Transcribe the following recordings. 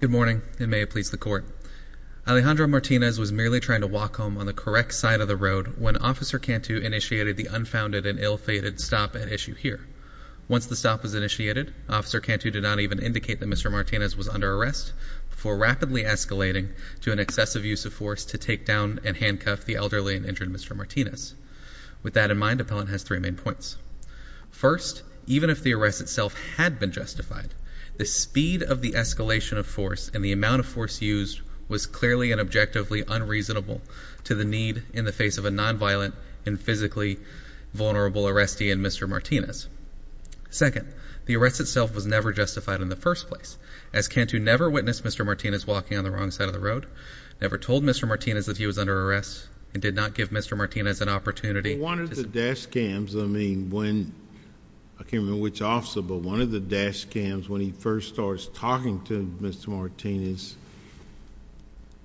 Good morning, and may it please the court. Alejandro Martinez was merely trying to walk home on the correct side of the road when Officer Cantu initiated the unfounded and ill-fated stop at issue here. Once the stop was initiated, Officer Cantu did not even indicate that Mr. Martinez was under arrest, before rapidly escalating to an excessive use of force to take down and handcuff the elderly and injured Mr. Martinez. With that in mind, Appellant has three main points. First, even if the arrest itself had been justified, the speed of the escalation of force and the amount of force used was clearly and objectively unreasonable to the need in the face of a non-violent and physically vulnerable arrestee in Mr. Martinez. Second, the arrest itself was never justified in the first place, as Cantu never witnessed Mr. Martinez walking on the wrong side of the road, never told Mr. Martinez that he was under arrest, and did not give Mr. Martinez an opportunity to speak. Well one of the dash cams, I mean when, I can't remember which officer, but one of the dash cams when he first starts talking to Mr. Martinez,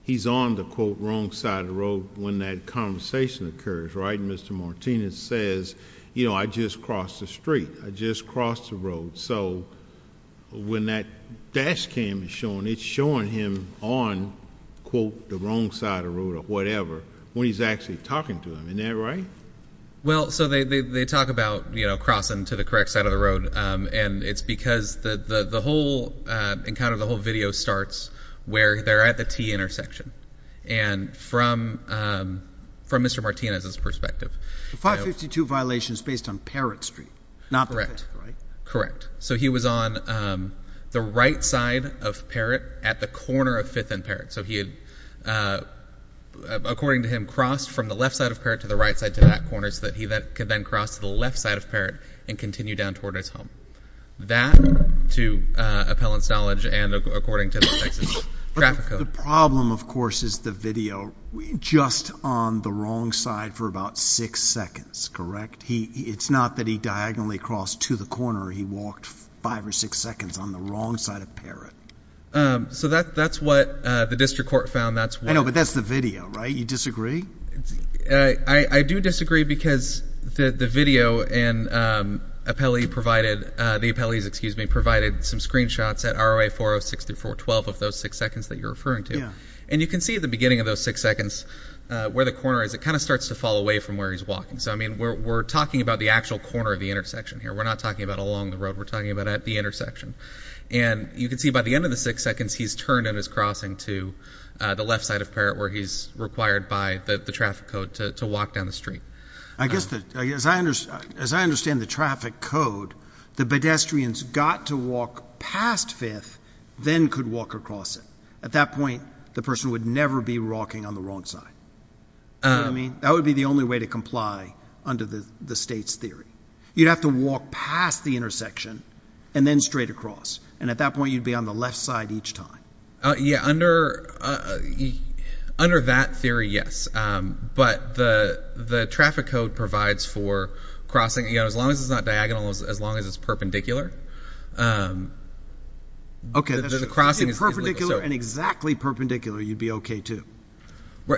he's on the quote wrong side of the road when that conversation occurs, right? Mr. Martinez says, you know, I just crossed the street, I just crossed the road, so when that dash cam is showing, it's showing him on quote the wrong side of the road or whatever when he's actually talking to him, isn't that right? Well, so they talk about, you know, crossing to the correct side of the road, and it's because the whole, and kind of the whole video starts where they're at the T intersection, and from Mr. Martinez's perspective. The 552 violation is based on Parrott Street, not the Fifth, right? Correct, correct. So he was on the right side of Parrott at the corner of Fifth and Parrott, so he had, according to him, crossed from the left side of Parrott to the right side to that corner so that he could then cross to the left side of Parrott and continue down toward his home. That, to appellant's knowledge, and according to the Texas traffic code. The problem, of course, is the video just on the wrong side for about six seconds, correct? It's not that he diagonally crossed to the corner, he walked five or six seconds on the wrong side of Parrott. So that's what the district court found, that's what. I know, but that's the video, right? You disagree? I do disagree because the video and appellee provided, the appellees, excuse me, provided some screenshots at ROA 406 through 412 of those six seconds that you're referring to. And you can see at the beginning of those six seconds where the corner is, it kind of starts to fall away from where he's walking. So I mean, we're talking about the actual corner of the intersection here, we're not talking about along the road, we're talking about at the intersection. And you can see by the end of the six seconds he's turned in his crossing to the left side of Parrott where he's required by the traffic code to walk down the street. I guess, as I understand the traffic code, the pedestrians got to walk past 5th, then could walk across it. At that point, the person would never be walking on the wrong side. You know what I mean? That would be the only way to comply under the state's theory. You'd have to walk past the intersection and then straight across. And at that point you'd be on the left side each time. Yeah, under that theory, yes. But the traffic code provides for crossing, you know, as long as it's not diagonal, as long as it's perpendicular. Okay, if it's perpendicular and exactly perpendicular, you'd be okay too.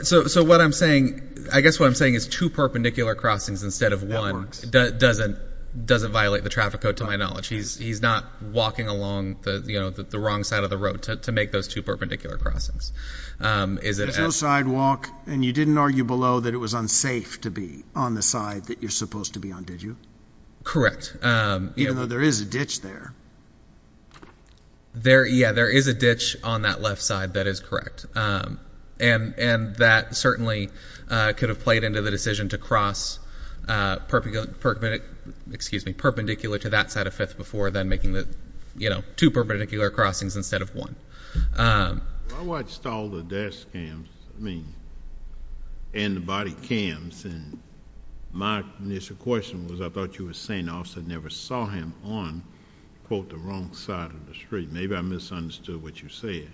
So what I'm saying, I guess what I'm saying is two perpendicular crossings instead of one doesn't violate the traffic code to my knowledge. He's not walking along the wrong side of the road to make those two perpendicular crossings. There's no sidewalk, and you didn't argue below that it was unsafe to be on the side that you're supposed to be on, did you? Correct. Even though there is a ditch there. Yeah, there is a ditch on that left side, that is correct. And that certainly could have played into the decision to cross perpendicular to that side of 5th before then making the two perpendicular crossings instead of one. I watched all the dash cams, I mean, and the body cams, and my initial question was I thought you were saying the officer never saw him on, quote, the wrong side of the street. Maybe I misunderstood what you said.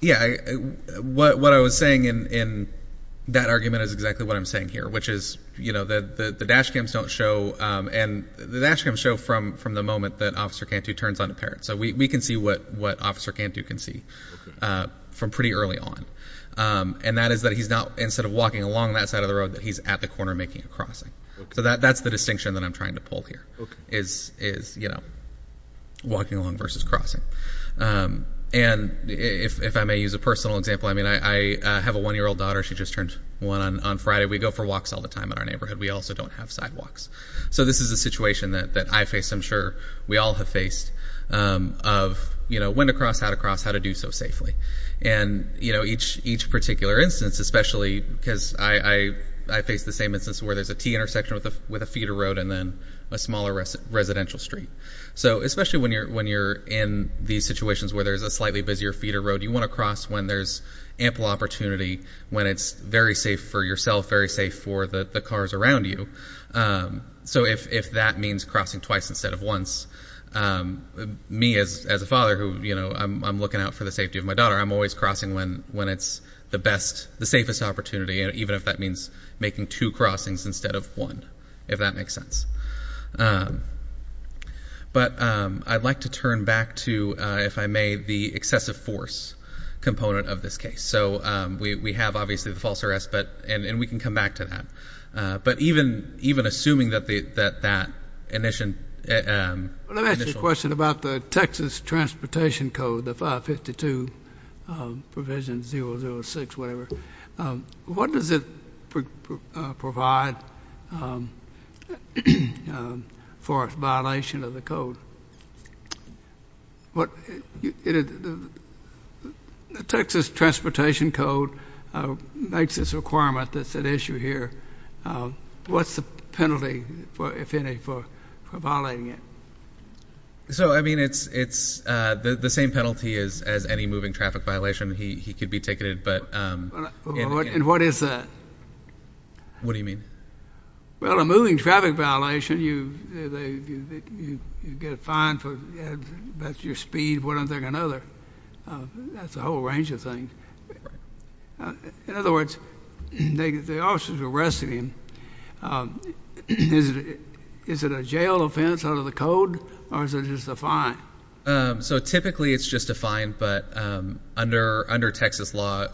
Yeah, what I was saying in that argument is exactly what I'm saying here, which is, you know, the dash cams don't show, and the dash cams show from the moment that Officer Cantu turns on the parent. So we can see what Officer Cantu can see from pretty early on. And that is that he's not, instead of walking along that side of the road, that he's at the corner making a crossing. So that's the distinction that I'm trying to pull here, is, you know, walking along versus crossing. And if I may use a personal example, I mean, I have a one-year-old daughter, she just turned one on Friday. We go for walks all the time in our neighborhood. We also don't have sidewalks. So this is a situation that I face, I'm sure we all have faced, of, you know, when to cross, how to cross, how to do so safely. And, you know, each particular instance, especially because I face the same instance where there's a T intersection with a feeder road and then a smaller residential street. So especially when you're in these situations where there's a slightly busier feeder road, you want to cross when there's ample opportunity, when it's very safe for yourself, very safe for the cars around you. So if that means crossing twice instead of once, me as a father who, you know, I'm looking out for the safety of my daughter, I'm always crossing when it's the best, the safest opportunity, even if that means making two crossings instead of one, if that makes sense. But I'd like to turn back to, if I may, the excessive force component of this case. So we have, obviously, the false arrest, but, and we can come back to that. But even, even assuming that the, that, that initial... Let me ask you a question about the Texas Transportation Code, the 552 provision 006, whatever. What does it provide for a violation of the code? What, you know, the, the, the Texas Transportation Code makes this requirement that's at issue here. What's the penalty, if any, for violating it? So, I mean, it's, it's the same penalty as, as any moving traffic violation. He, he could be ticketed, but... And what is that? What do you mean? Well, a moving traffic violation, you, you get fined for, that's your speed, one thing or another. That's a whole range of things. In other words, they, the officers are arresting him. Is it, is it a jail offense out of the code, or is it just a fine? So typically it's just a fine, but under, under Texas law,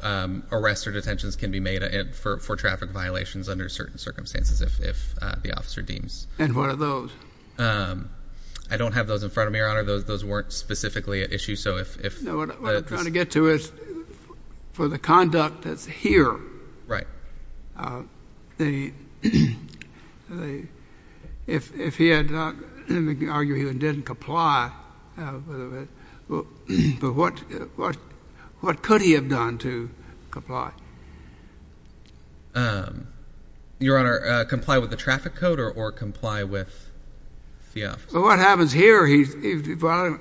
arrests or detentions can be made for, for traffic violations under certain circumstances if, if the officer deems. And what are those? I don't have those in front of me, Your Honor. What are those? Those weren't specifically at issue, so if, if... No, what, what I'm trying to get to is for the conduct that's here. Right. The, the, if, if he had not, let me argue he didn't comply, but what, what, what could he have done to comply? Your Honor, comply with the traffic code or, or comply with the officer? Well, what happens here, he, he, well,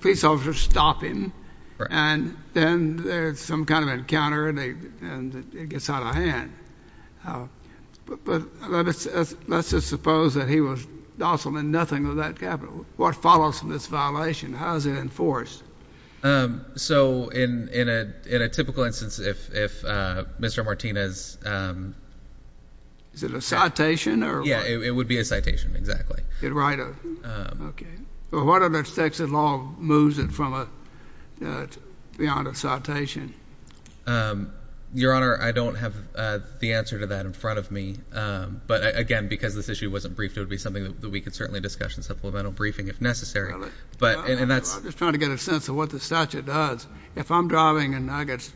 police officers stop him, and then there's some kind of encounter, and he, and it gets out of hand. But, but let us, let's just suppose that he was docile and nothing of that capital. What follows from this violation? How is it enforced? So in, in a, in a typical instance, if, if Mr. Martinez... Is it a citation, or what? Yeah, it would be a citation, exactly. It'd write a, okay. Well, what other section of law moves it from a, beyond a citation? Your Honor, I don't have the answer to that in front of me. But again, because this issue wasn't briefed, it would be something that we could certainly discuss in supplemental briefing if necessary. But, and that's... I'm just trying to get a sense of what the statute does. If I'm driving and I get,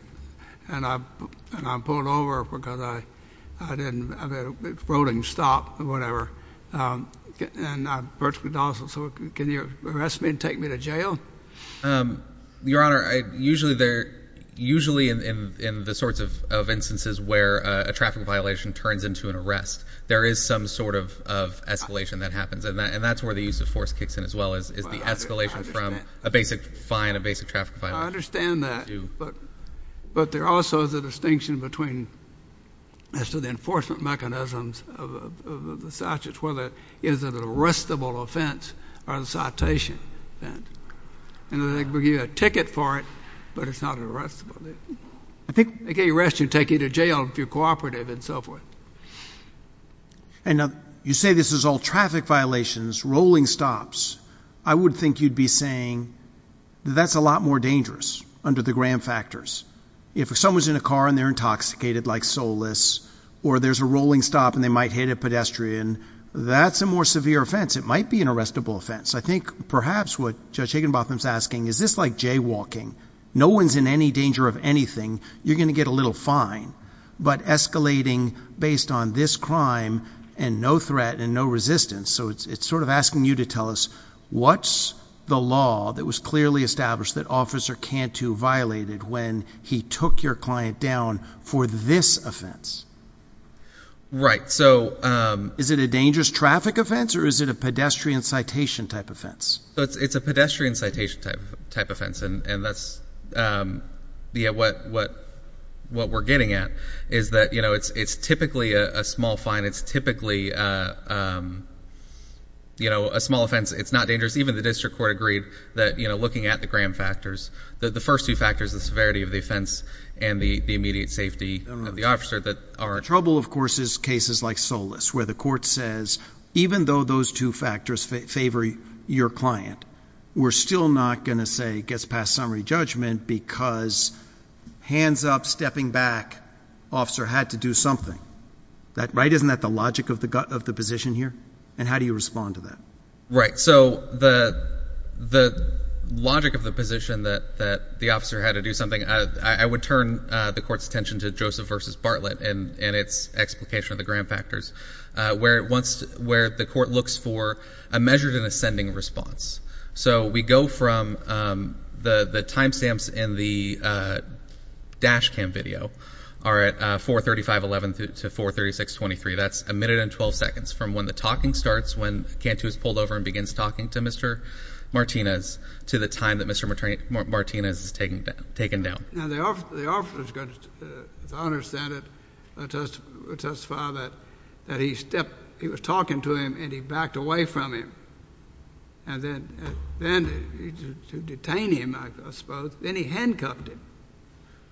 and I'm pulled over because I, I didn't, I've had a rolling stop or whatever, and I'm virtually docile, so can you arrest me and take me to jail? Your Honor, I, usually there, usually in, in, in the sorts of, of instances where a traffic violation turns into an arrest, there is some sort of, of escalation that happens, and that, and that's where the use of force kicks in as well, is, is the escalation from a basic fine, a basic traffic fine. I understand that. But, but there also is a distinction between, as to the enforcement mechanisms of, of, of the statute, whether it is an arrestable offense or a citation offense. And they give you a ticket for it, but it's not arrestable. I think they can arrest you and take you to jail if you're cooperative and so forth. And now, you say this is all traffic violations, rolling stops. I would think you'd be saying that's a lot more dangerous under the Graham factors. If someone's in a car and they're intoxicated like Solis, or there's a rolling stop and they might hit a pedestrian, that's a more severe offense. It might be an arrestable offense. I think perhaps what Judge Higginbotham's asking, is this like jaywalking? No one's in any danger of anything. You're going to get a little fine. But escalating based on this crime and no threat and no resistance, so it's sort of asking you to tell us, what's the law that was clearly established that Officer Cantu violated when he took your client down for this offense? Right. So. Is it a dangerous traffic offense or is it a pedestrian citation type offense? It's a pedestrian citation type, type offense. And that's, yeah, what, what, what we're getting at is that, you know, it's, it's typically a small fine. It's typically, you know, a small offense. It's not dangerous. Even the district court agreed that, you know, looking at the Graham factors, the first two factors, the severity of the offense and the, the immediate safety of the officer that are. Trouble, of course, is cases like Solis, where the court says, even though those two factors favor your client, we're still not going to say gets past summary judgment because hands up, stepping back, officer had to do something. That, right? Isn't that the logic of the, of the position here? And how do you respond to that? Right. So the, the logic of the position that, that the officer had to do something, I would turn the court's attention to Joseph versus Bartlett and, and its explication of the Graham factors where it wants to, where the court looks for a measured and ascending response. So we go from, um, the, the timestamps in the, uh, dash cam video are at, uh, 435, 11 to 436, 23. That's a minute and 12 seconds from when the talking starts, when Cantu is pulled over and begins talking to Mr. Martinez to the time that Mr. Martinez is taken, taken down. Now the officer, the officer's going to, as I understand it, testify that, that he stepped, he was talking to him and he backed away from him and then, then to detain him, I suppose, then he handcuffed him.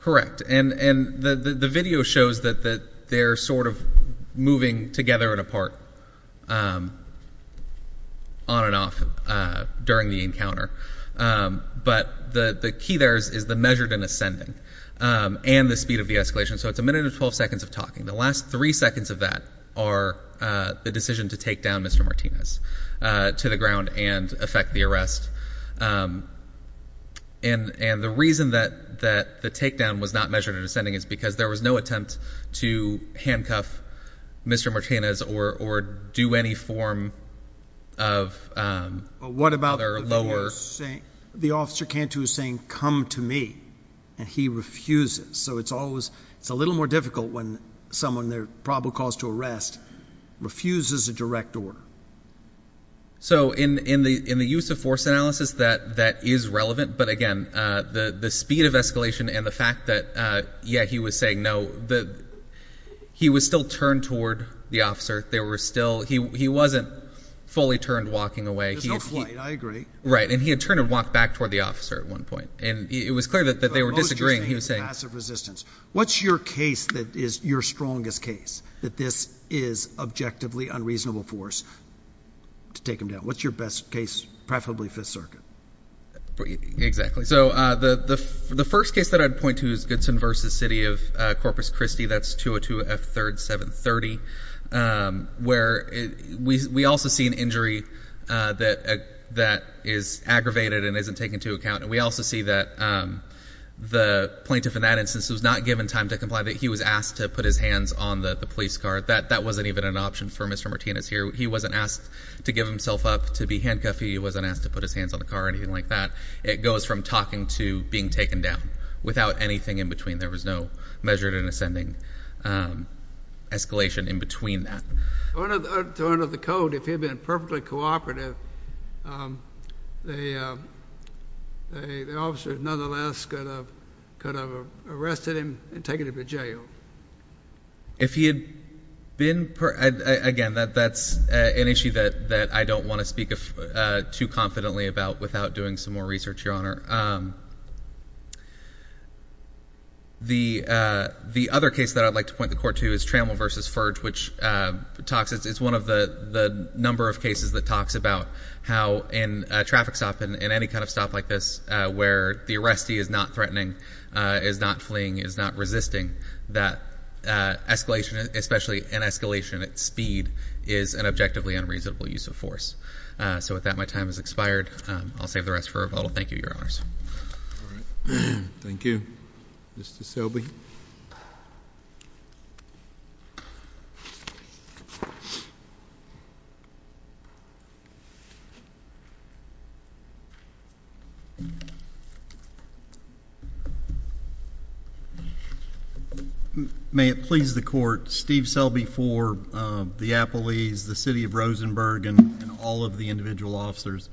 Correct. And, and the, the, the video shows that, that they're sort of moving together and apart, um, on and off, uh, during the encounter. Um, but the, the key there is, is the measured and ascending, um, and the speed of the escalation. So it's a minute and 12 seconds of talking. The last three seconds of that are, uh, the decision to take down Mr. Martinez, uh, to the ground and affect the arrest. Um, and, and the reason that, that the takedown was not measured and ascending is because there was no attempt to handcuff Mr. Martinez or, or do any form of, um, what about the lower saying the officer Cantu is going to come to me and he refuses. So it's always, it's a little more difficult when someone there probably calls to arrest, refuses a direct door. So in, in the, in the use of force analysis that, that is relevant, but again, uh, the, the speed of escalation and the fact that, uh, yeah, he was saying no, the, he was still turned toward the officer. They were still, he, he wasn't fully turned walking away. There's no flight, I agree. Right. And he had turned and walked back toward the officer at one point. And it was clear that, that they were disagreeing. He was saying passive resistance. What's your case that is your strongest case that this is objectively unreasonable force to take them down? What's your best case? Preferably fifth circuit. Exactly. So, uh, the, the, the first case that I'd point to is Goodson versus city of Corpus Christi. That's 202 F third seven 30. Um, where we, we also see an injury, uh, that, uh, that is aggravated and isn't taken to account. And we also see that, um, the plaintiff in that instance was not given time to comply that he was asked to put his hands on the police car that, that wasn't even an option for Mr. Martinez here. He wasn't asked to give himself up to be handcuffed. He wasn't asked to put his hands on the car or anything like that. It goes from talking to being taken down without anything in between. There was no measured and ascending, um, escalation in between that. One of the code, if he had been perfectly cooperative, um, they, um, they, the officers nonetheless could have, could have arrested him and taken him to jail. If he had been, again, that, that's an issue that, that I don't want to speak too confidently about without doing some more research, Your Honor. Um, the, uh, the other case that I'd like to point the court to is Trammell versus Ferge, which, uh, talks, it's one of the number of cases that talks about how in a traffic stop in any kind of stop like this, uh, where the arrestee is not threatening, uh, is not fleeing, is not resisting that, uh, escalation, especially in escalation at speed is an objectively unreasonable use of force. Uh, so with that, my time has expired. Um, I'll save the rest for rebuttal. Thank you, Your Honors. Thank you. Mr. Selby. May it please the Court, Steve Selby for, um, the Appellees, the City of Rosenberg and all of the individual officers.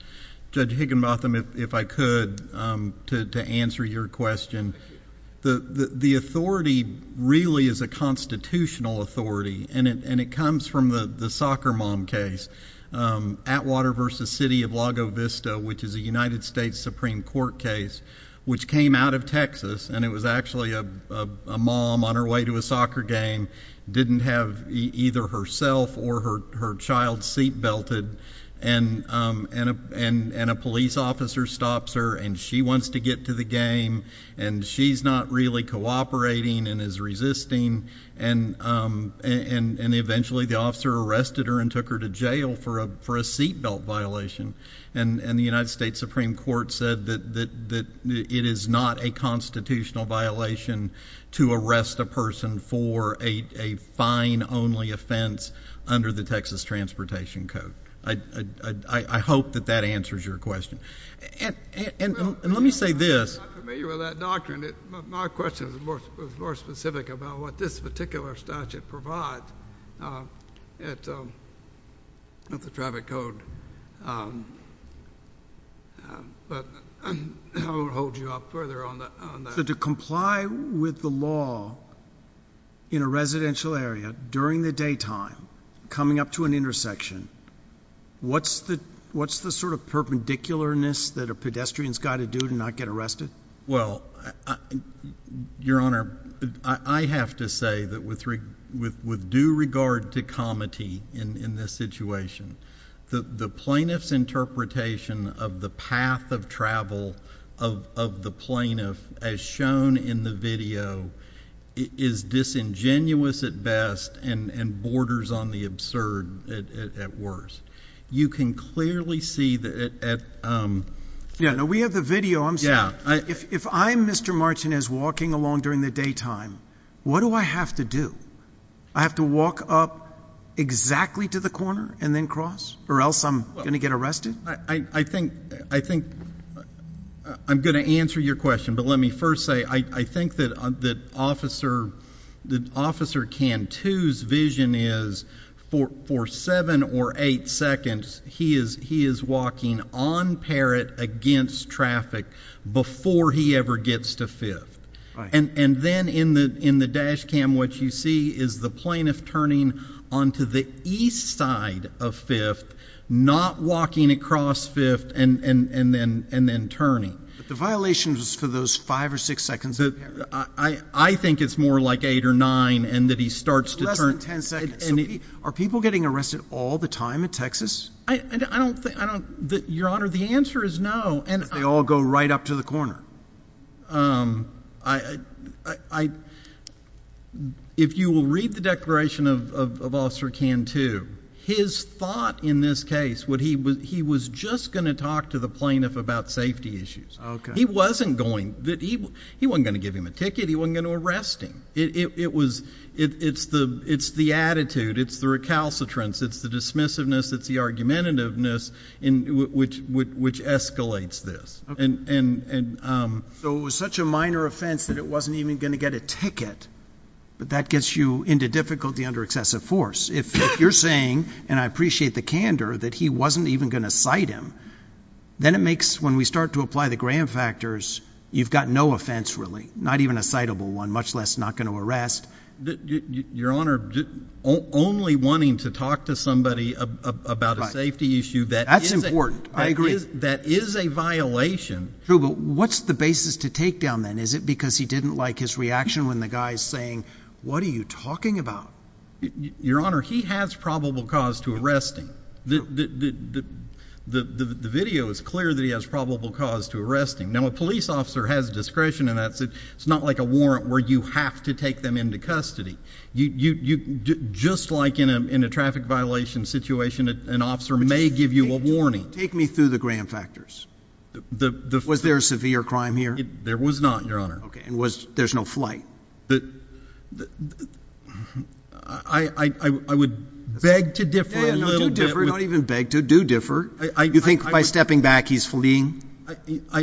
Judge Higginbotham, if, if I could, um, to, to answer your question, the, the, the authority really is a constitutional authority and it, and it comes from the, the soccer mom case, um, Atwater versus City of Lago Vista, which is a United States Supreme Court case, which came out of Texas and it was actually a, a, a mom on her way to a soccer game, didn't have either herself or her, her child seat belted and, um, and a, and, and a police officer stops her and she wants to get to the game and she's not really cooperating and is resisting and, um, and, and eventually the officer arrested her and took her to jail for a, for a seat belt violation. And, and the United States Supreme Court said that, that it is not a constitutional violation to arrest a person for a, a fine only offense under the Texas Transportation Code. I, I, I, I hope that that answers your question. And, and, and let me say this. I'm familiar with that doctrine. My question is more, was more specific about what this particular statute provides, um, at, um, at the traffic code. Um, um, but I, I won't hold you up further on that, on that. So to comply with the law in a residential area during the daytime, coming up to an intersection, what's the, what's the sort of perpendicularness that a pedestrian's got to do to not get arrested? Well, I, Your Honor, I, I have to say that with, with, with due regard to comity in, in this situation, the, the plaintiff's interpretation of the path of travel of, of the plaintiff as shown in the video is disingenuous at best and, and borders on the absurd at, at, at worst. You can clearly see that at, um... Yeah, no, we have the video. I'm sorry. Yeah, I... If, if I'm Mr. Martinez walking along during the daytime, what do I have to do? I have to walk up exactly to the corner and then cross, or else I'm going to get arrested? I, I, I think, I think, I'm going to answer your question, but let me first say, I, I think that, that Officer, that Officer Cantu's vision is for, for seven or eight seconds, he is, he is walking on parrot against traffic before he ever gets to fifth. Right. And, and then in the, in the dash cam, what you see is the plaintiff turning onto the east side of fifth, not walking across fifth, and, and, and then, and then turning. But the violation was for those five or six seconds? I, I think it's more like eight or nine, and that he starts to turn... Less than ten seconds. So, are people getting arrested all the time in Texas? I, I don't think, I don't... Your Honor, the answer is no, and... They all go right up to the corner? Um, I, I, I, if you will read the declaration of, of, of Officer Cantu, his thought in this case, what he was, he was just going to talk to the plaintiff about safety issues. Okay. He wasn't going, that he, he wasn't going to give him a ticket, he wasn't going to arrest him. It, it, it was, it, it's the, it's the attitude, it's the recalcitrance, it's the dismissiveness, it's the argumentativeness in, which, which, which escalates this. And, and, and, um... So, it was such a minor offense that it wasn't even going to get a ticket, but that gets you into difficulty under excessive force. If, if you're saying, and I appreciate the candor, that he wasn't even going to cite him, then it makes, when we start to apply the Graham factors, you've got no offense really, not even a citable one, much less not going to arrest. Your Honor, only wanting to talk to somebody about a safety issue... That's important. I agree. That is a violation. True, but what's the basis to take down then? Is it because he didn't like his reaction when the guy's saying, what are you talking about? Your Honor, he has probable cause to arrest him. The, the, the, the, the video is clear that he has probable cause to arrest him. Now, a police officer has discretion and that's, it's not like a warrant where you have to take them into custody. You, you, you, just like in a, in a traffic violation situation, an officer may give you a warning. Take me through the Graham factors. The, the... Was there a severe crime here? There was not, Your Honor. Okay, and was, there's no flight? The, the, I, I, I would beg to differ a little bit... Yeah, yeah, no, do differ, don't even beg to, do differ. I, I... You think by stepping back he's fleeing? I, I,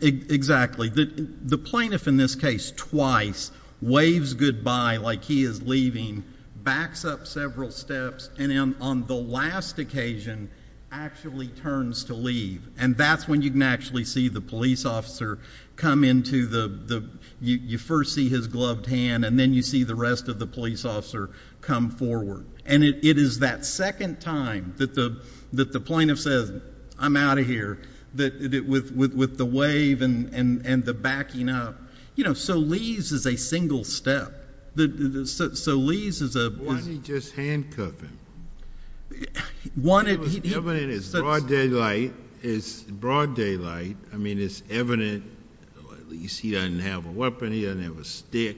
exactly. The, the plaintiff in this case twice waves goodbye like he is leaving, backs up several steps and then on the last occasion actually turns to leave and that's when you can actually see the police officer come into the, the, you, you first see his gloved hand and then you see the rest of the police officer come forward and it, it is that second time that the, that the plaintiff says, I'm out of here, that, that with, with, with the wave and, and, and the backing up, you know, so leaves is a single step. The, the, so, so leaves is a... Or is he just handcuffing? One... It was evident it's broad daylight, it's broad daylight. I mean, it's evident, at least he doesn't have a weapon, he doesn't have a stick,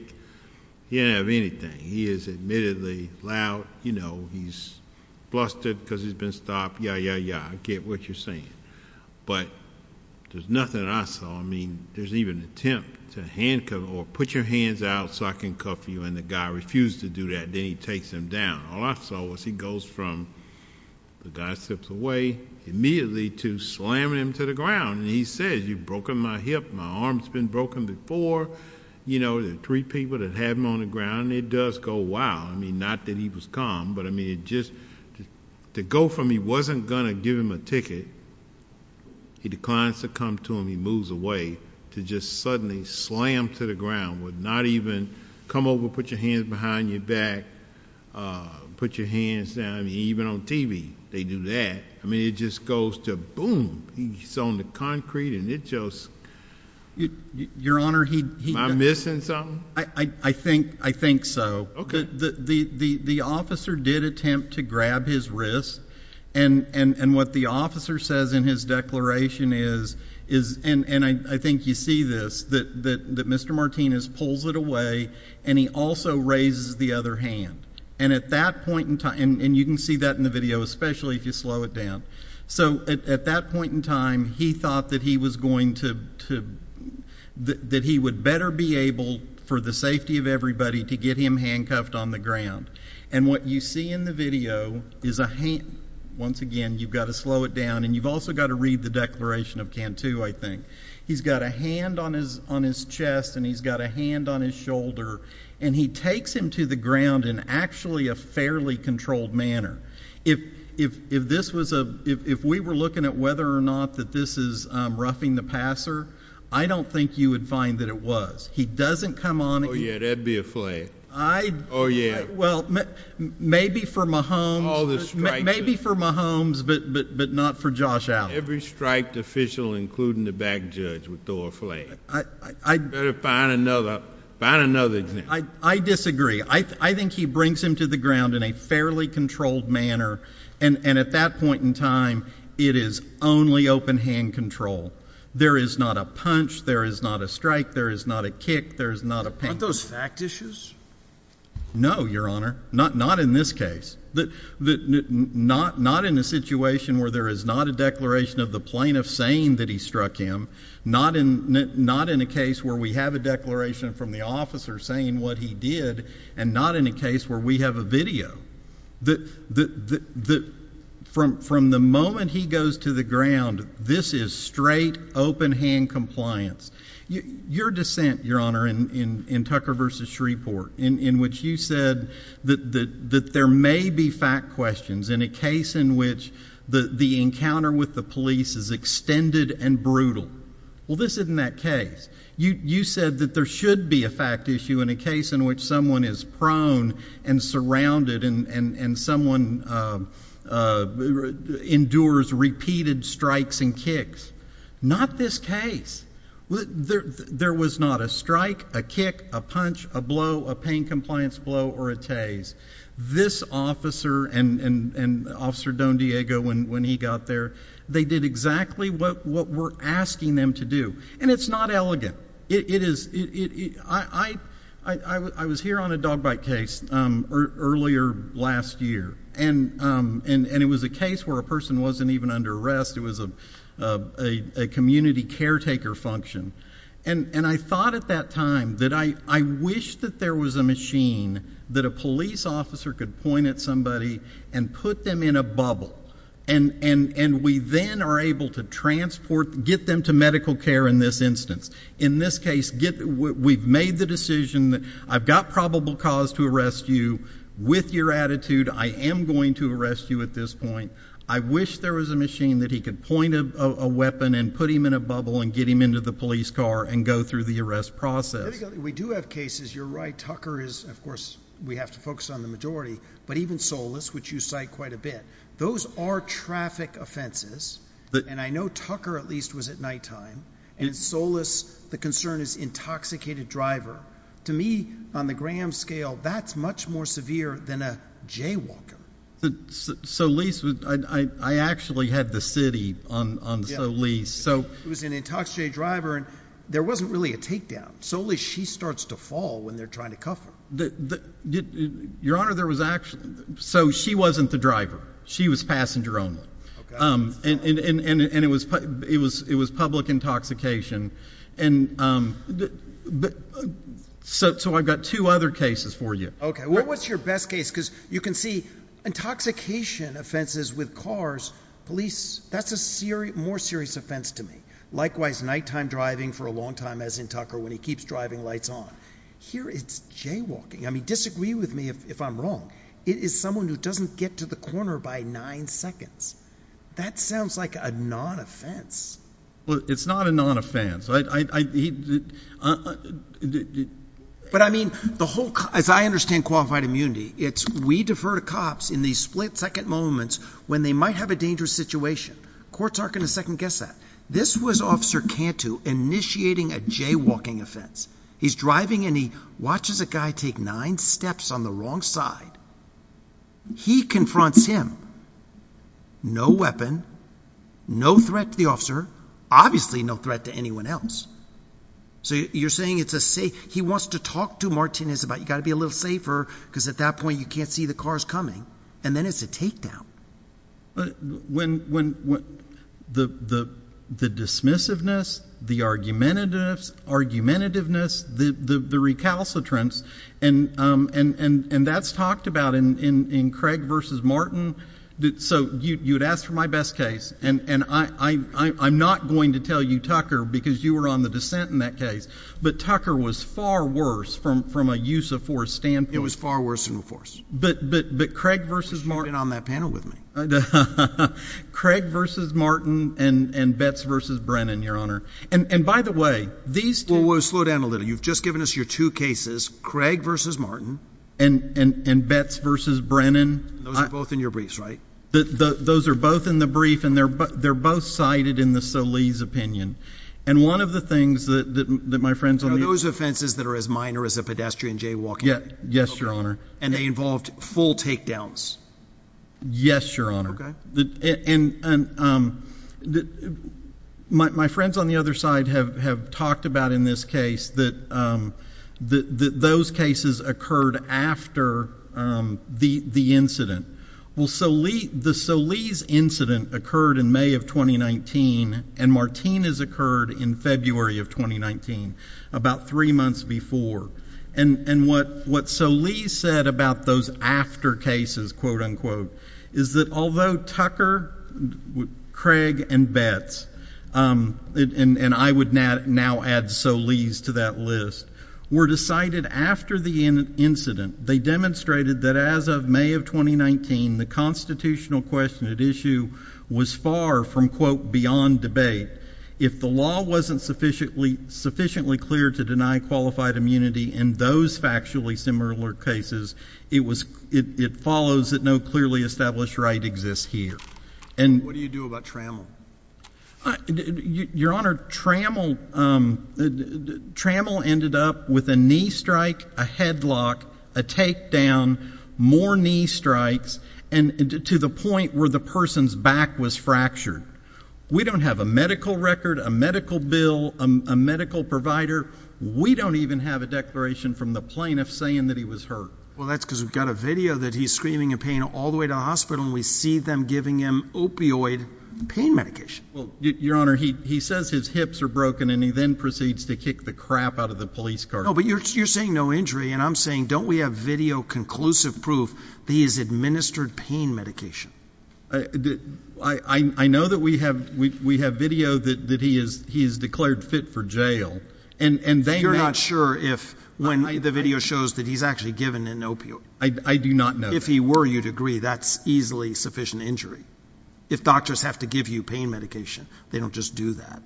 he doesn't have anything. He is admittedly loud, you know, he's flustered because he's been stopped. Yeah, yeah, yeah, I get what you're saying, but there's nothing I saw. I mean, there's even an attempt to handcuff or put your hands out so I can cuff you and the guy refused to do that, then he takes him down. All I saw was he goes from, the guy slips away, immediately to slamming him to the ground and he says, you've broken my hip, my arm's been broken before, you know, the three people that had him on the ground and it does go wild. I mean, not that he was calm, but I mean, it just, to go from he wasn't gonna give him a ticket, he declines to come to him, he moves away, to just suddenly slam to the ground with not even, come over, put your hands behind your back, put your hands down, I mean, even on TV, they do that. I mean, it just goes to boom, he's on the concrete and it just... Your Honor, he... Am I missing something? I think so. Okay. The officer did attempt to grab his wrist and what the officer says in his declaration is, and I think you see this, that Mr. Martinez pulls it away and he also raises the other hand. And at that point in time, and you can see that in the video, especially if you slow it down, so at that point in time, he thought that he was going to, that he would better be able, for the safety of everybody, to get him handcuffed on the ground. And what you see in the video is a hand... Once again, you've got to slow it down and you've also got to read the declaration of Cantu, I think. He's got a hand on his chest and he's got a hand on his shoulder and he takes him to the ground in actually a fairly controlled manner. If this was a, if we were looking at whether or not that this is roughing the passer, I don't think you would find that it was. He doesn't come on... Oh, yeah, that'd be a flag. I... Oh, yeah. Well, maybe for Mahomes... All the stripes... Maybe for Mahomes, but not for Josh Allen. Every striped official, including the back judge, would throw a flag. You'd better find another, find another example. I disagree. I think he brings him to the ground in a fairly controlled manner and at that point in time, it is only open hand control. There is not a punch. There is not a strike. There is not a kick. There is not a... Aren't those fact issues? No, Your Honor, not in this case. Not in a situation where there is not a declaration of the plaintiff saying that he struck him, not in a case where we have a declaration from the officer saying what he did, and not in a case where we have a video. The... From the moment he goes to the ground, this is straight open hand compliance. Your dissent, Your Honor, in Tucker v. Shreveport, in which you said that there may be fact questions in a case in which the encounter with the police is extended and brutal, well, this isn't that case. You said that there should be a fact issue in a case in which someone is prone and surrounded and someone endures repeated strikes and kicks. Not this case. There was not a strike, a kick, a punch, a blow, a pain compliance blow, or a tase. This officer and Officer Don Diego, when he got there, they did exactly what we're asking them to do, and it's not elegant. It is... I was here on a dog bite case earlier last year, and it was a case where a person wasn't even under arrest. It was a community caretaker function, and I thought at that time that I wish that there was a machine that a police officer could point at somebody and put them in a bubble, and we then are able to transport, get them to medical care in this instance. In this case, we've made the decision that I've got probable cause to arrest you with your attitude. I am going to arrest you at this point. I wish there was a machine that he could point a weapon and put him in a bubble and get him into the police car and go through the arrest process. We do have cases, you're right, Tucker is, of course, we have to focus on the majority, but even Solis, which you cite quite a bit. Those are traffic offenses, and I know Tucker, at least, was at nighttime, and Solis, the concern is intoxicated driver. To me, on the Graham scale, that's much more severe than a jaywalker. Solis, I actually had the city on Solis, so... It was an intoxicated driver, and there wasn't really a takedown. Solis, she starts to fall when they're trying to cuff her. Your Honor, there was... She wasn't the driver. She was passenger only, and it was public intoxication. I've got two other cases for you. Okay. What's your best case? You can see intoxication offenses with cars, police, that's a more serious offense to me. Likewise, nighttime driving for a long time, as in Tucker, when he keeps driving lights on. Here, it's jaywalking. I mean, disagree with me if I'm wrong. It is someone who doesn't get to the corner by nine seconds. That sounds like a non-offense. Well, it's not a non-offense. But I mean, as I understand qualified immunity, it's we defer to cops in these split-second moments when they might have a dangerous situation. Courts aren't going to second-guess that. This was Officer Cantu initiating a jaywalking offense. He's driving, and he watches a guy take nine steps on the wrong side. He confronts him. No weapon. No threat to the officer. Obviously, no threat to anyone else. So you're saying it's a safe... He wants to talk to Martinez about, you've got to be a little safer, because at that point, you can't see the cars coming. And then it's a takedown. But when... the dismissiveness, the argumentativeness, the recalcitrance, and that's talked about in Craig v. Martin. So you'd ask for my best case, and I'm not going to tell you Tucker, because you were on the dissent in that case, but Tucker was far worse from a use-of-force standpoint. It was far worse in force. But Craig v. Martin... You've been on that panel with me. Craig v. Martin and Betz v. Brennan, Your Honor. And by the way, these two... Well, slow down a little. You've just given us your two cases, Craig v. Martin... And Betz v. Brennan... Those are both in your briefs, right? Those are both in the brief, and they're both cited in the Solis opinion. And one of the things that my friends... Are those offenses that are as minor as a pedestrian jaywalking? Yes, Your Honor. And they involved full takedowns? Yes, Your Honor. And my friends on the other side have talked about in this case that those cases occurred after the incident. Well, the Solis incident occurred in May of 2019, and Martin has occurred in February of 2019, about three months before. And what Solis said about those after cases, quote-unquote, is that although Tucker, Craig, and Betz... And I would now add Solis to that list. Were decided after the incident, they demonstrated that as of May of 2019, the constitutional question at issue was far from, quote, beyond debate. If the law wasn't sufficiently clear to deny qualified immunity in those factually similar cases, it follows that no clearly established right exists here. What do you do about trammel? Your Honor, trammel ended up with a knee strike, a headlock, a takedown, more knee strikes, and to the point where the person's back was fractured. We don't have a medical record, a medical bill, a medical provider. We don't even have a declaration from the plaintiff saying that he was hurt. Well, that's because we've got a video that he's screaming in pain all the way to the hospital, and we see them giving him opioid pain medication. Well, Your Honor, he says his hips are broken, and he then proceeds to kick the crap out of the police car. No, but you're saying no injury, and I'm saying don't we have video conclusive proof that he has administered pain medication? I know that we have video that he has declared fit for jail, and they— You're not sure if, when the video shows that he's actually given an opioid. I do not know that. If he were, you'd agree that's easily sufficient injury. If doctors have to give you pain medication, they don't just do that.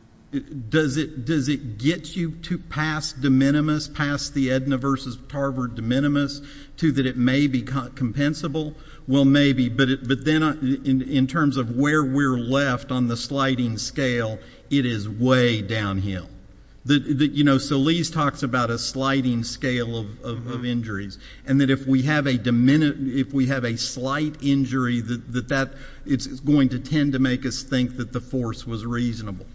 Does it get you to pass de minimis, pass the AEDNA versus Tarver de minimis, to that it may be compensable? Well, maybe, but then, in terms of where we're left on the sliding scale, it is way downhill. So Lee's talks about a sliding scale of injuries, and that if we have a slight injury, it's going to tend to make us think that the force was reasonable.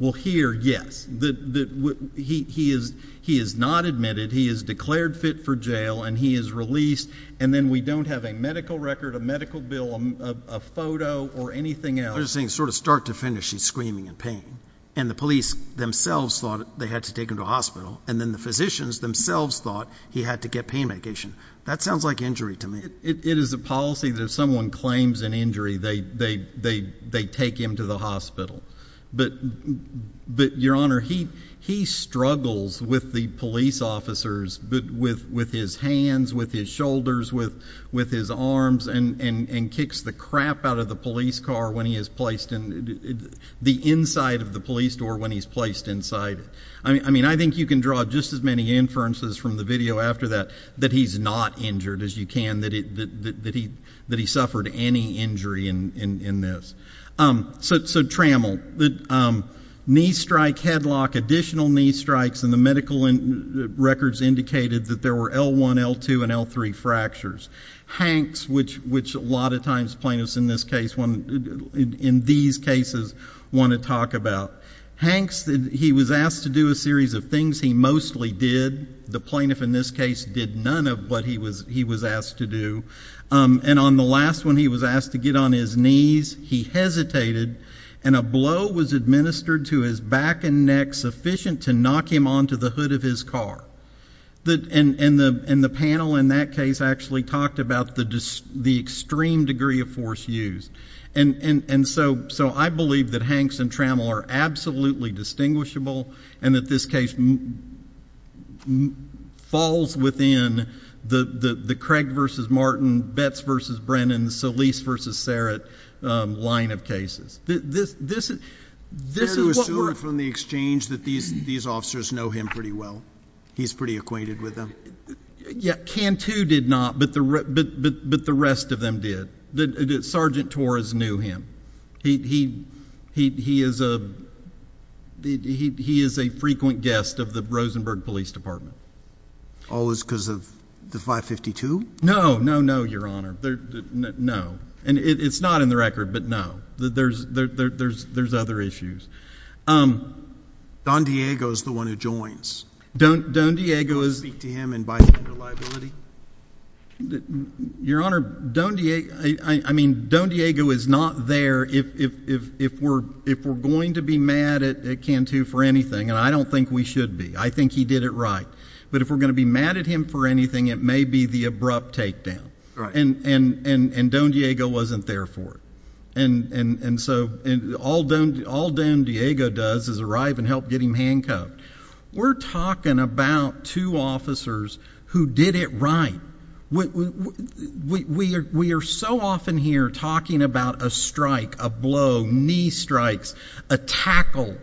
Well, here, yes. He is not admitted. He is declared fit for jail, and he is released, and then we don't have a medical record, a medical bill, a photo, or anything else. You're saying sort of start to finish, he's screaming in pain, and the police themselves thought they had to take him to a hospital, and then the physicians themselves thought he had to get pain medication. That sounds like injury to me. It is a policy that if someone claims an injury, they take him to the hospital. But, Your Honor, he struggles with the police officers with his hands, with his shoulders, with his arms, and kicks the crap out of the police car when he is placed in the inside of the police door when he's placed inside. I mean, I think you can draw just as many inferences from the video after that that he's not injured as you can, that he suffered any injury in this. So, trammel, knee strike, headlock, additional knee strikes, and the medical records indicated that there were L1, L2, and L3 fractures. Hanks, which a lot of times plaintiffs in this case, in these cases, want to talk about. Hanks, he was asked to do a series of things he mostly did. The plaintiff in this case did none of what he was asked to do. And on the last one, he was asked to get on his knees. He hesitated, and a blow was administered to his back and neck sufficient to knock him onto the hood of his car. And the panel in that case actually talked about the extreme degree of force used. And so, I believe that Hanks and trammel are absolutely distinguishable, and that this case falls within the Craig v. Martin, Betz v. Brennan, Solis v. Serrett line of cases. This is what we're — Can you assume from the exchange that these officers know him pretty well? He's pretty acquainted with them? Yeah. Cantu did not, but the rest of them did. Sergeant Torres knew him. He is a frequent guest of the Rosenberg Police Department. Always because of the 552? No, no, no, Your Honor. No. And it's not in the record, but no. There's other issues. Don Diego is the one who joins. Don Diego is — Speak to him and buy him your liability? Your Honor, Don Diego — I mean, Don Diego is not there if we're going to be mad at Cantu for anything. And I don't think we should be. I think he did it right. But if we're going to be mad at him for anything, it may be the abrupt takedown. Right. And Don Diego wasn't there for it. And so, all Don Diego does is arrive and help get him handcuffed. We're talking about two officers who did it right. We are so often here talking about a strike, a blow, knee strikes, a tackle.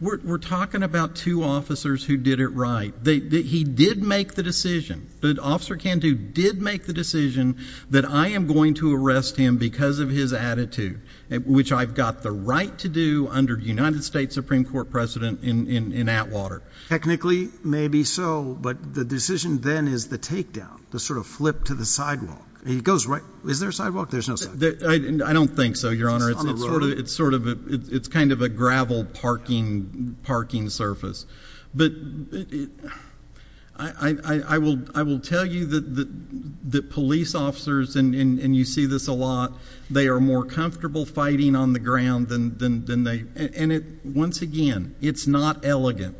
We're talking about two officers who did it right. He did make the decision, Officer Cantu did make the decision that I am going to arrest him because of his attitude, which I've got the right to do under United States Supreme Court precedent in Atwater. Technically, maybe so. But the decision then is the takedown, the sort of flip to the sidewalk. He goes right — is there a sidewalk? There's no sidewalk. I don't think so, Your Honor. It's on the road. It's sort of — it's kind of a gravel parking surface. But I will tell you that police officers — and you see this a lot — they are more comfortable fighting on the ground than they — and it — once again, it's not elegant.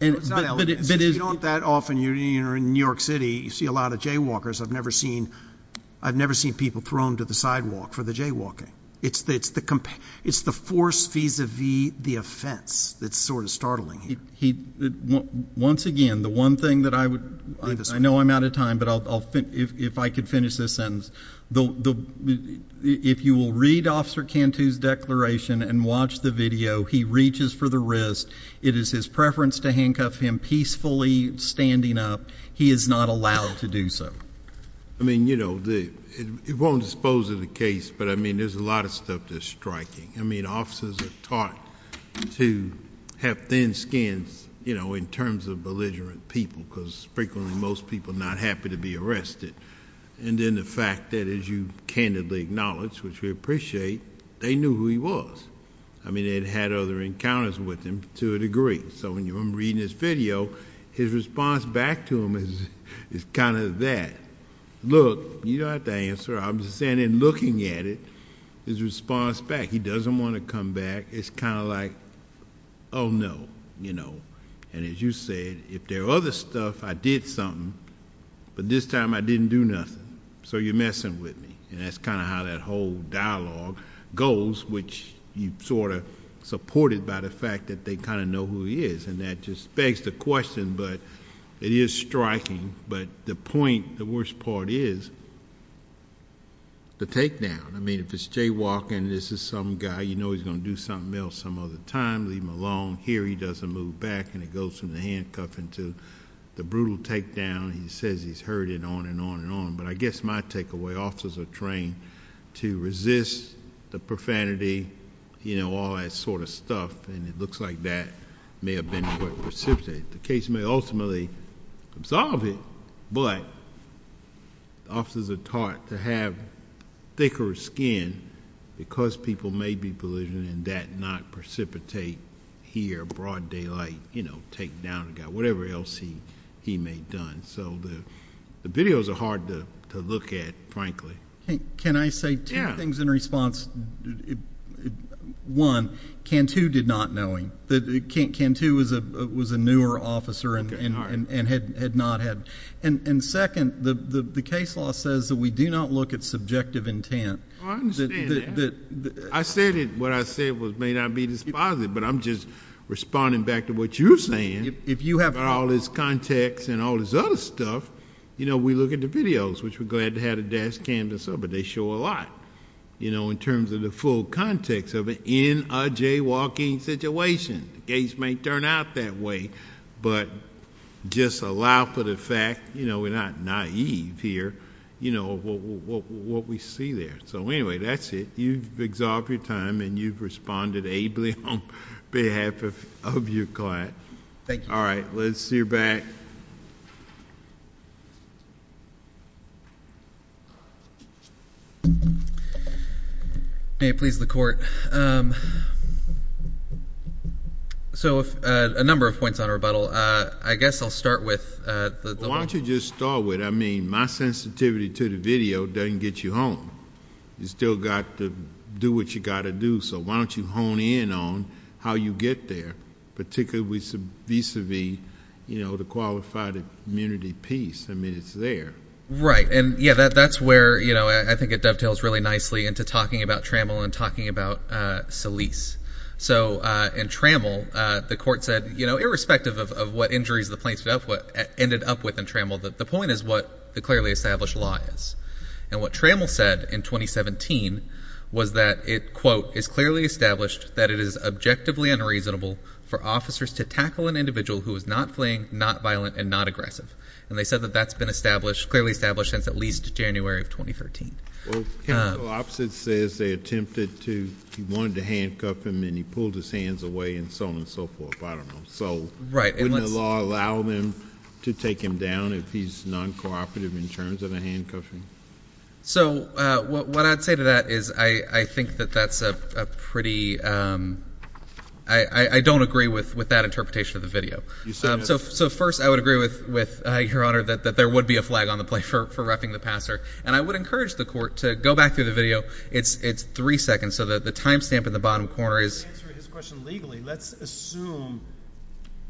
It's not elegant. But it is — You don't that often — you're in New York City, you see a lot of jaywalkers. I've never seen — I've never seen people thrown to the sidewalk for the jaywalking. It's the — it's the force vis-a-vis the offense that's sort of startling here. He — once again, the one thing that I would — I know I'm out of time, but I'll — if I could finish this sentence. The — if you will read Officer Cantu's declaration and watch the video, he reaches for the wrist. It is his preference to handcuff him, peacefully standing up. He is not allowed to do so. I mean, you know, it won't dispose of the case, but I mean, there's a lot of stuff that's striking. I mean, officers are taught to have thin skins, you know, in terms of belligerent people, because frequently most people are not happy to be arrested. And then the fact that, as you candidly acknowledge, which we appreciate, they knew who he was. I mean, they'd had other encounters with him to a degree. So when you — I'm reading this video, his response back to him is kind of that. Look, you don't have to answer. I'm just saying in looking at it, his response back, he doesn't want to come back. It's kind of like, oh, no, you know. And as you said, if there are other stuff, I did something, but this time I didn't do nothing, so you're messing with me. And that's kind of how that whole dialogue goes, which you sort of supported by the fact that they kind of know who he is. And that just begs the question, but it is striking. But the point, the worst part is the takedown. I mean, if it's Jaywalking, this is some guy, you know he's going to do something else some other time, leave him alone. Here he doesn't move back, and it goes from the handcuffing to the brutal takedown. He says he's heard it on and on and on. But I guess my takeaway, officers are trained to resist the profanity, you know, all that sort of stuff. And it looks like that may have been what precipitated it. The case may ultimately absolve it, but officers are taught to have thicker skin because people may be belittling and that not precipitate here, broad daylight, you know, takedown a guy, whatever else he may have done. So the videos are hard to look at, frankly. Can I say two things in response? One, Cantu did not know him. Cantu was a newer officer and had not had... And second, the case law says that we do not look at subjective intent. Oh, I understand that. I said what I said may not be dispositive, but I'm just responding back to what you're If you have all this context and all this other stuff, you know, we look at the videos, which we're glad to have a dash cam to show, but they show a lot, you know, in terms of the full context of it in a jaywalking situation. The case may turn out that way, but just allow for the fact, you know, we're not naive here, you know, what we see there. So anyway, that's it. You've exhaled your time, and you've responded ably on behalf of your client. Thank you. All right, let's see your back. May it please the Court. So a number of points on rebuttal. I guess I'll start with the... Why don't you just start with, I mean, my sensitivity to the video doesn't get you home. You still got to do what you got to do, so why don't you hone in on how you get there, particularly vis-a-vis, you know, the qualified immunity piece? I mean, it's there. Right, and yeah, that's where, you know, I think it dovetails really nicely into talking about Trammell and talking about Solis. So in Trammell, the Court said, you know, irrespective of what injuries the plaintiff ended up with in Trammell, the point is what the clearly established law is. And what Trammell said in 2017 was that it, quote, is clearly established that it is objectively unreasonable for officers to tackle an individual who is not fleeing, not violent, and not aggressive. And they said that that's been established, clearly established, since at least January of 2013. Well, the opposite says they attempted to... he wanted to handcuff him, and he pulled his hands away, and so on and so forth. I don't know. So... Right. Wouldn't the law allow them to take him down if he's non-cooperative in terms of a handcuffing? So what I'd say to that is I think that that's a pretty... I don't agree with that interpretation of the video. So first, I would agree with Your Honor that there would be a flag on the plate for wrapping the passer. And I would encourage the Court to go back through the video. It's three seconds. So the time stamp in the bottom corner is... To answer his question legally, let's assume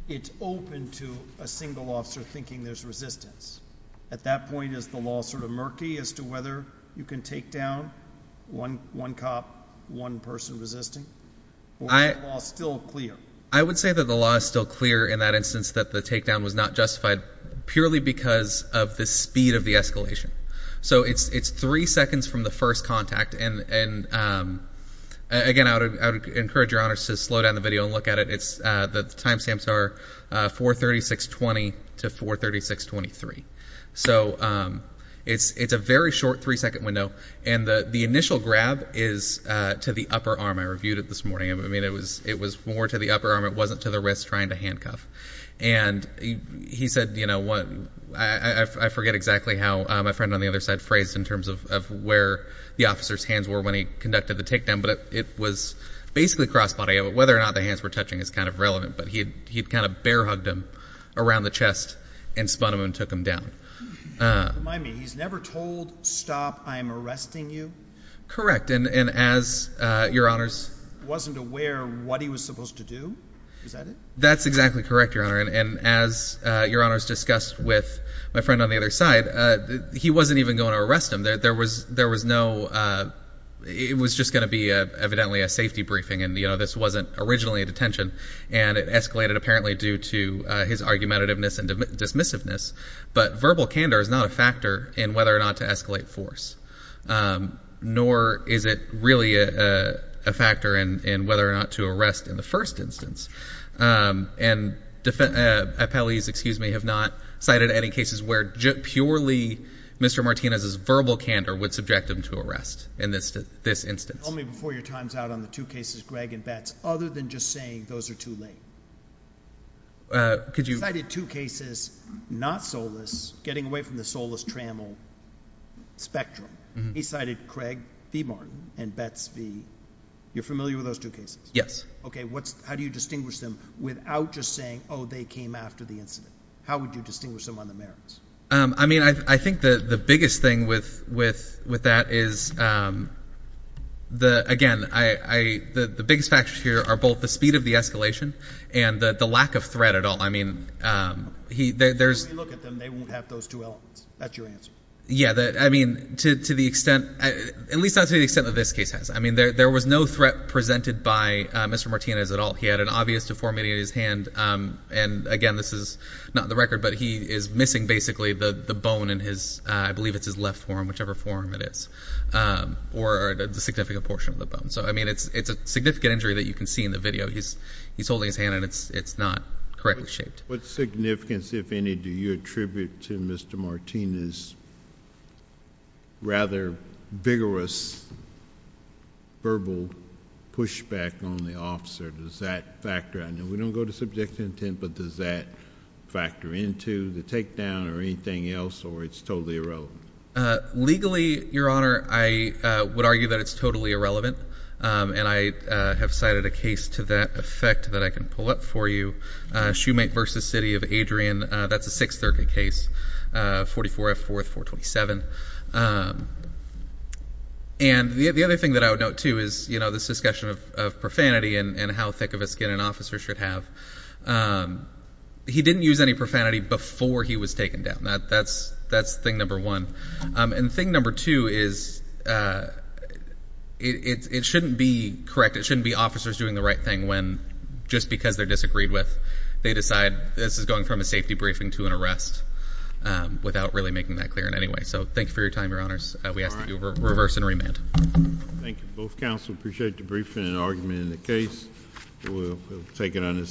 it's open to a single officer thinking there's resistance. At that point, is the law sort of murky as to whether you can take down one cop, one person resisting? Or is the law still clear? I would say that the law is still clear in that instance that the takedown was not justified purely because of the speed of the escalation. So it's three seconds from the first contact. And again, I would encourage Your Honor to slow down the video and look at it. The time stamps are 436.20 to 436.23. So it's a very short three-second window. And the initial grab is to the upper arm. I reviewed it this morning. I mean, it was more to the upper arm. It wasn't to the wrist trying to handcuff. And he said, you know, what... I forget exactly how my friend on the other side phrased in terms of where the officer's hands were when he conducted the takedown. It was basically cross-body. Whether or not the hands were touching is kind of relevant. But he kind of bear-hugged him around the chest and spun him and took him down. Remind me, he's never told, stop, I'm arresting you? Correct. And as Your Honor's... Wasn't aware what he was supposed to do? Is that it? That's exactly correct, Your Honor. And as Your Honor's discussed with my friend on the other side, he wasn't even going to arrest him. There was no... It was just going to be, evidently, a safety briefing. And, you know, this wasn't originally a detention. And it escalated apparently due to his argumentativeness and dismissiveness. But verbal candor is not a factor in whether or not to escalate force. Nor is it really a factor in whether or not to arrest in the first instance. And appellees, excuse me, have not cited any cases where purely Mr. Martinez's verbal candor would subject him to arrest in this instance. Tell me before your time's out on the two cases, Gregg and Betts, other than just saying those are too late. Could you... He cited two cases, not Solis, getting away from the Solis-Trammell spectrum. He cited Gregg v. Martin and Betts v... You're familiar with those two cases? Yes. Okay, how do you distinguish them without just saying, oh, they came after the incident? How would you distinguish them on the merits? I mean, I think the biggest thing with that is, again, the biggest factors here are both the speed of the escalation and the lack of threat at all. I mean, there's... When we look at them, they won't have those two elements. That's your answer. Yeah, I mean, to the extent... At least not to the extent that this case has. I mean, there was no threat presented by Mr. Martinez at all. He had an obvious deformity in his hand. And again, this is not the record, but he is missing basically the bone in his... I believe it's his left forearm, whichever forearm it is, or the significant portion of the bone. So, I mean, it's a significant injury that you can see in the video. He's holding his hand, and it's not correctly shaped. What significance, if any, do you attribute to Mr. Martinez' rather vigorous verbal pushback on the officer? Does that factor in? We don't go to subjective intent, but does that factor into the takedown or anything else, or it's totally irrelevant? Legally, Your Honor, I would argue that it's totally irrelevant. And I have cited a case to that effect that I can pull up for you, Shoemake v. City of Adrian. That's a Sixth Circuit case, 44 F. 4th, 427. And the other thing that I would note, too, is this discussion of profanity and how thick of a skin an officer should have. He didn't use any profanity before he was taken down. That's thing number one. And thing number two is it shouldn't be correct. It shouldn't be officers doing the right thing when, just because they're disagreed with, they decide this is going from a safety briefing to an arrest without really making that clear in any way. So thank you for your time, Your Honors. We ask that you reverse and remand. Thank you. Both counsel appreciate the briefing and argument in the case. We'll take it on its own.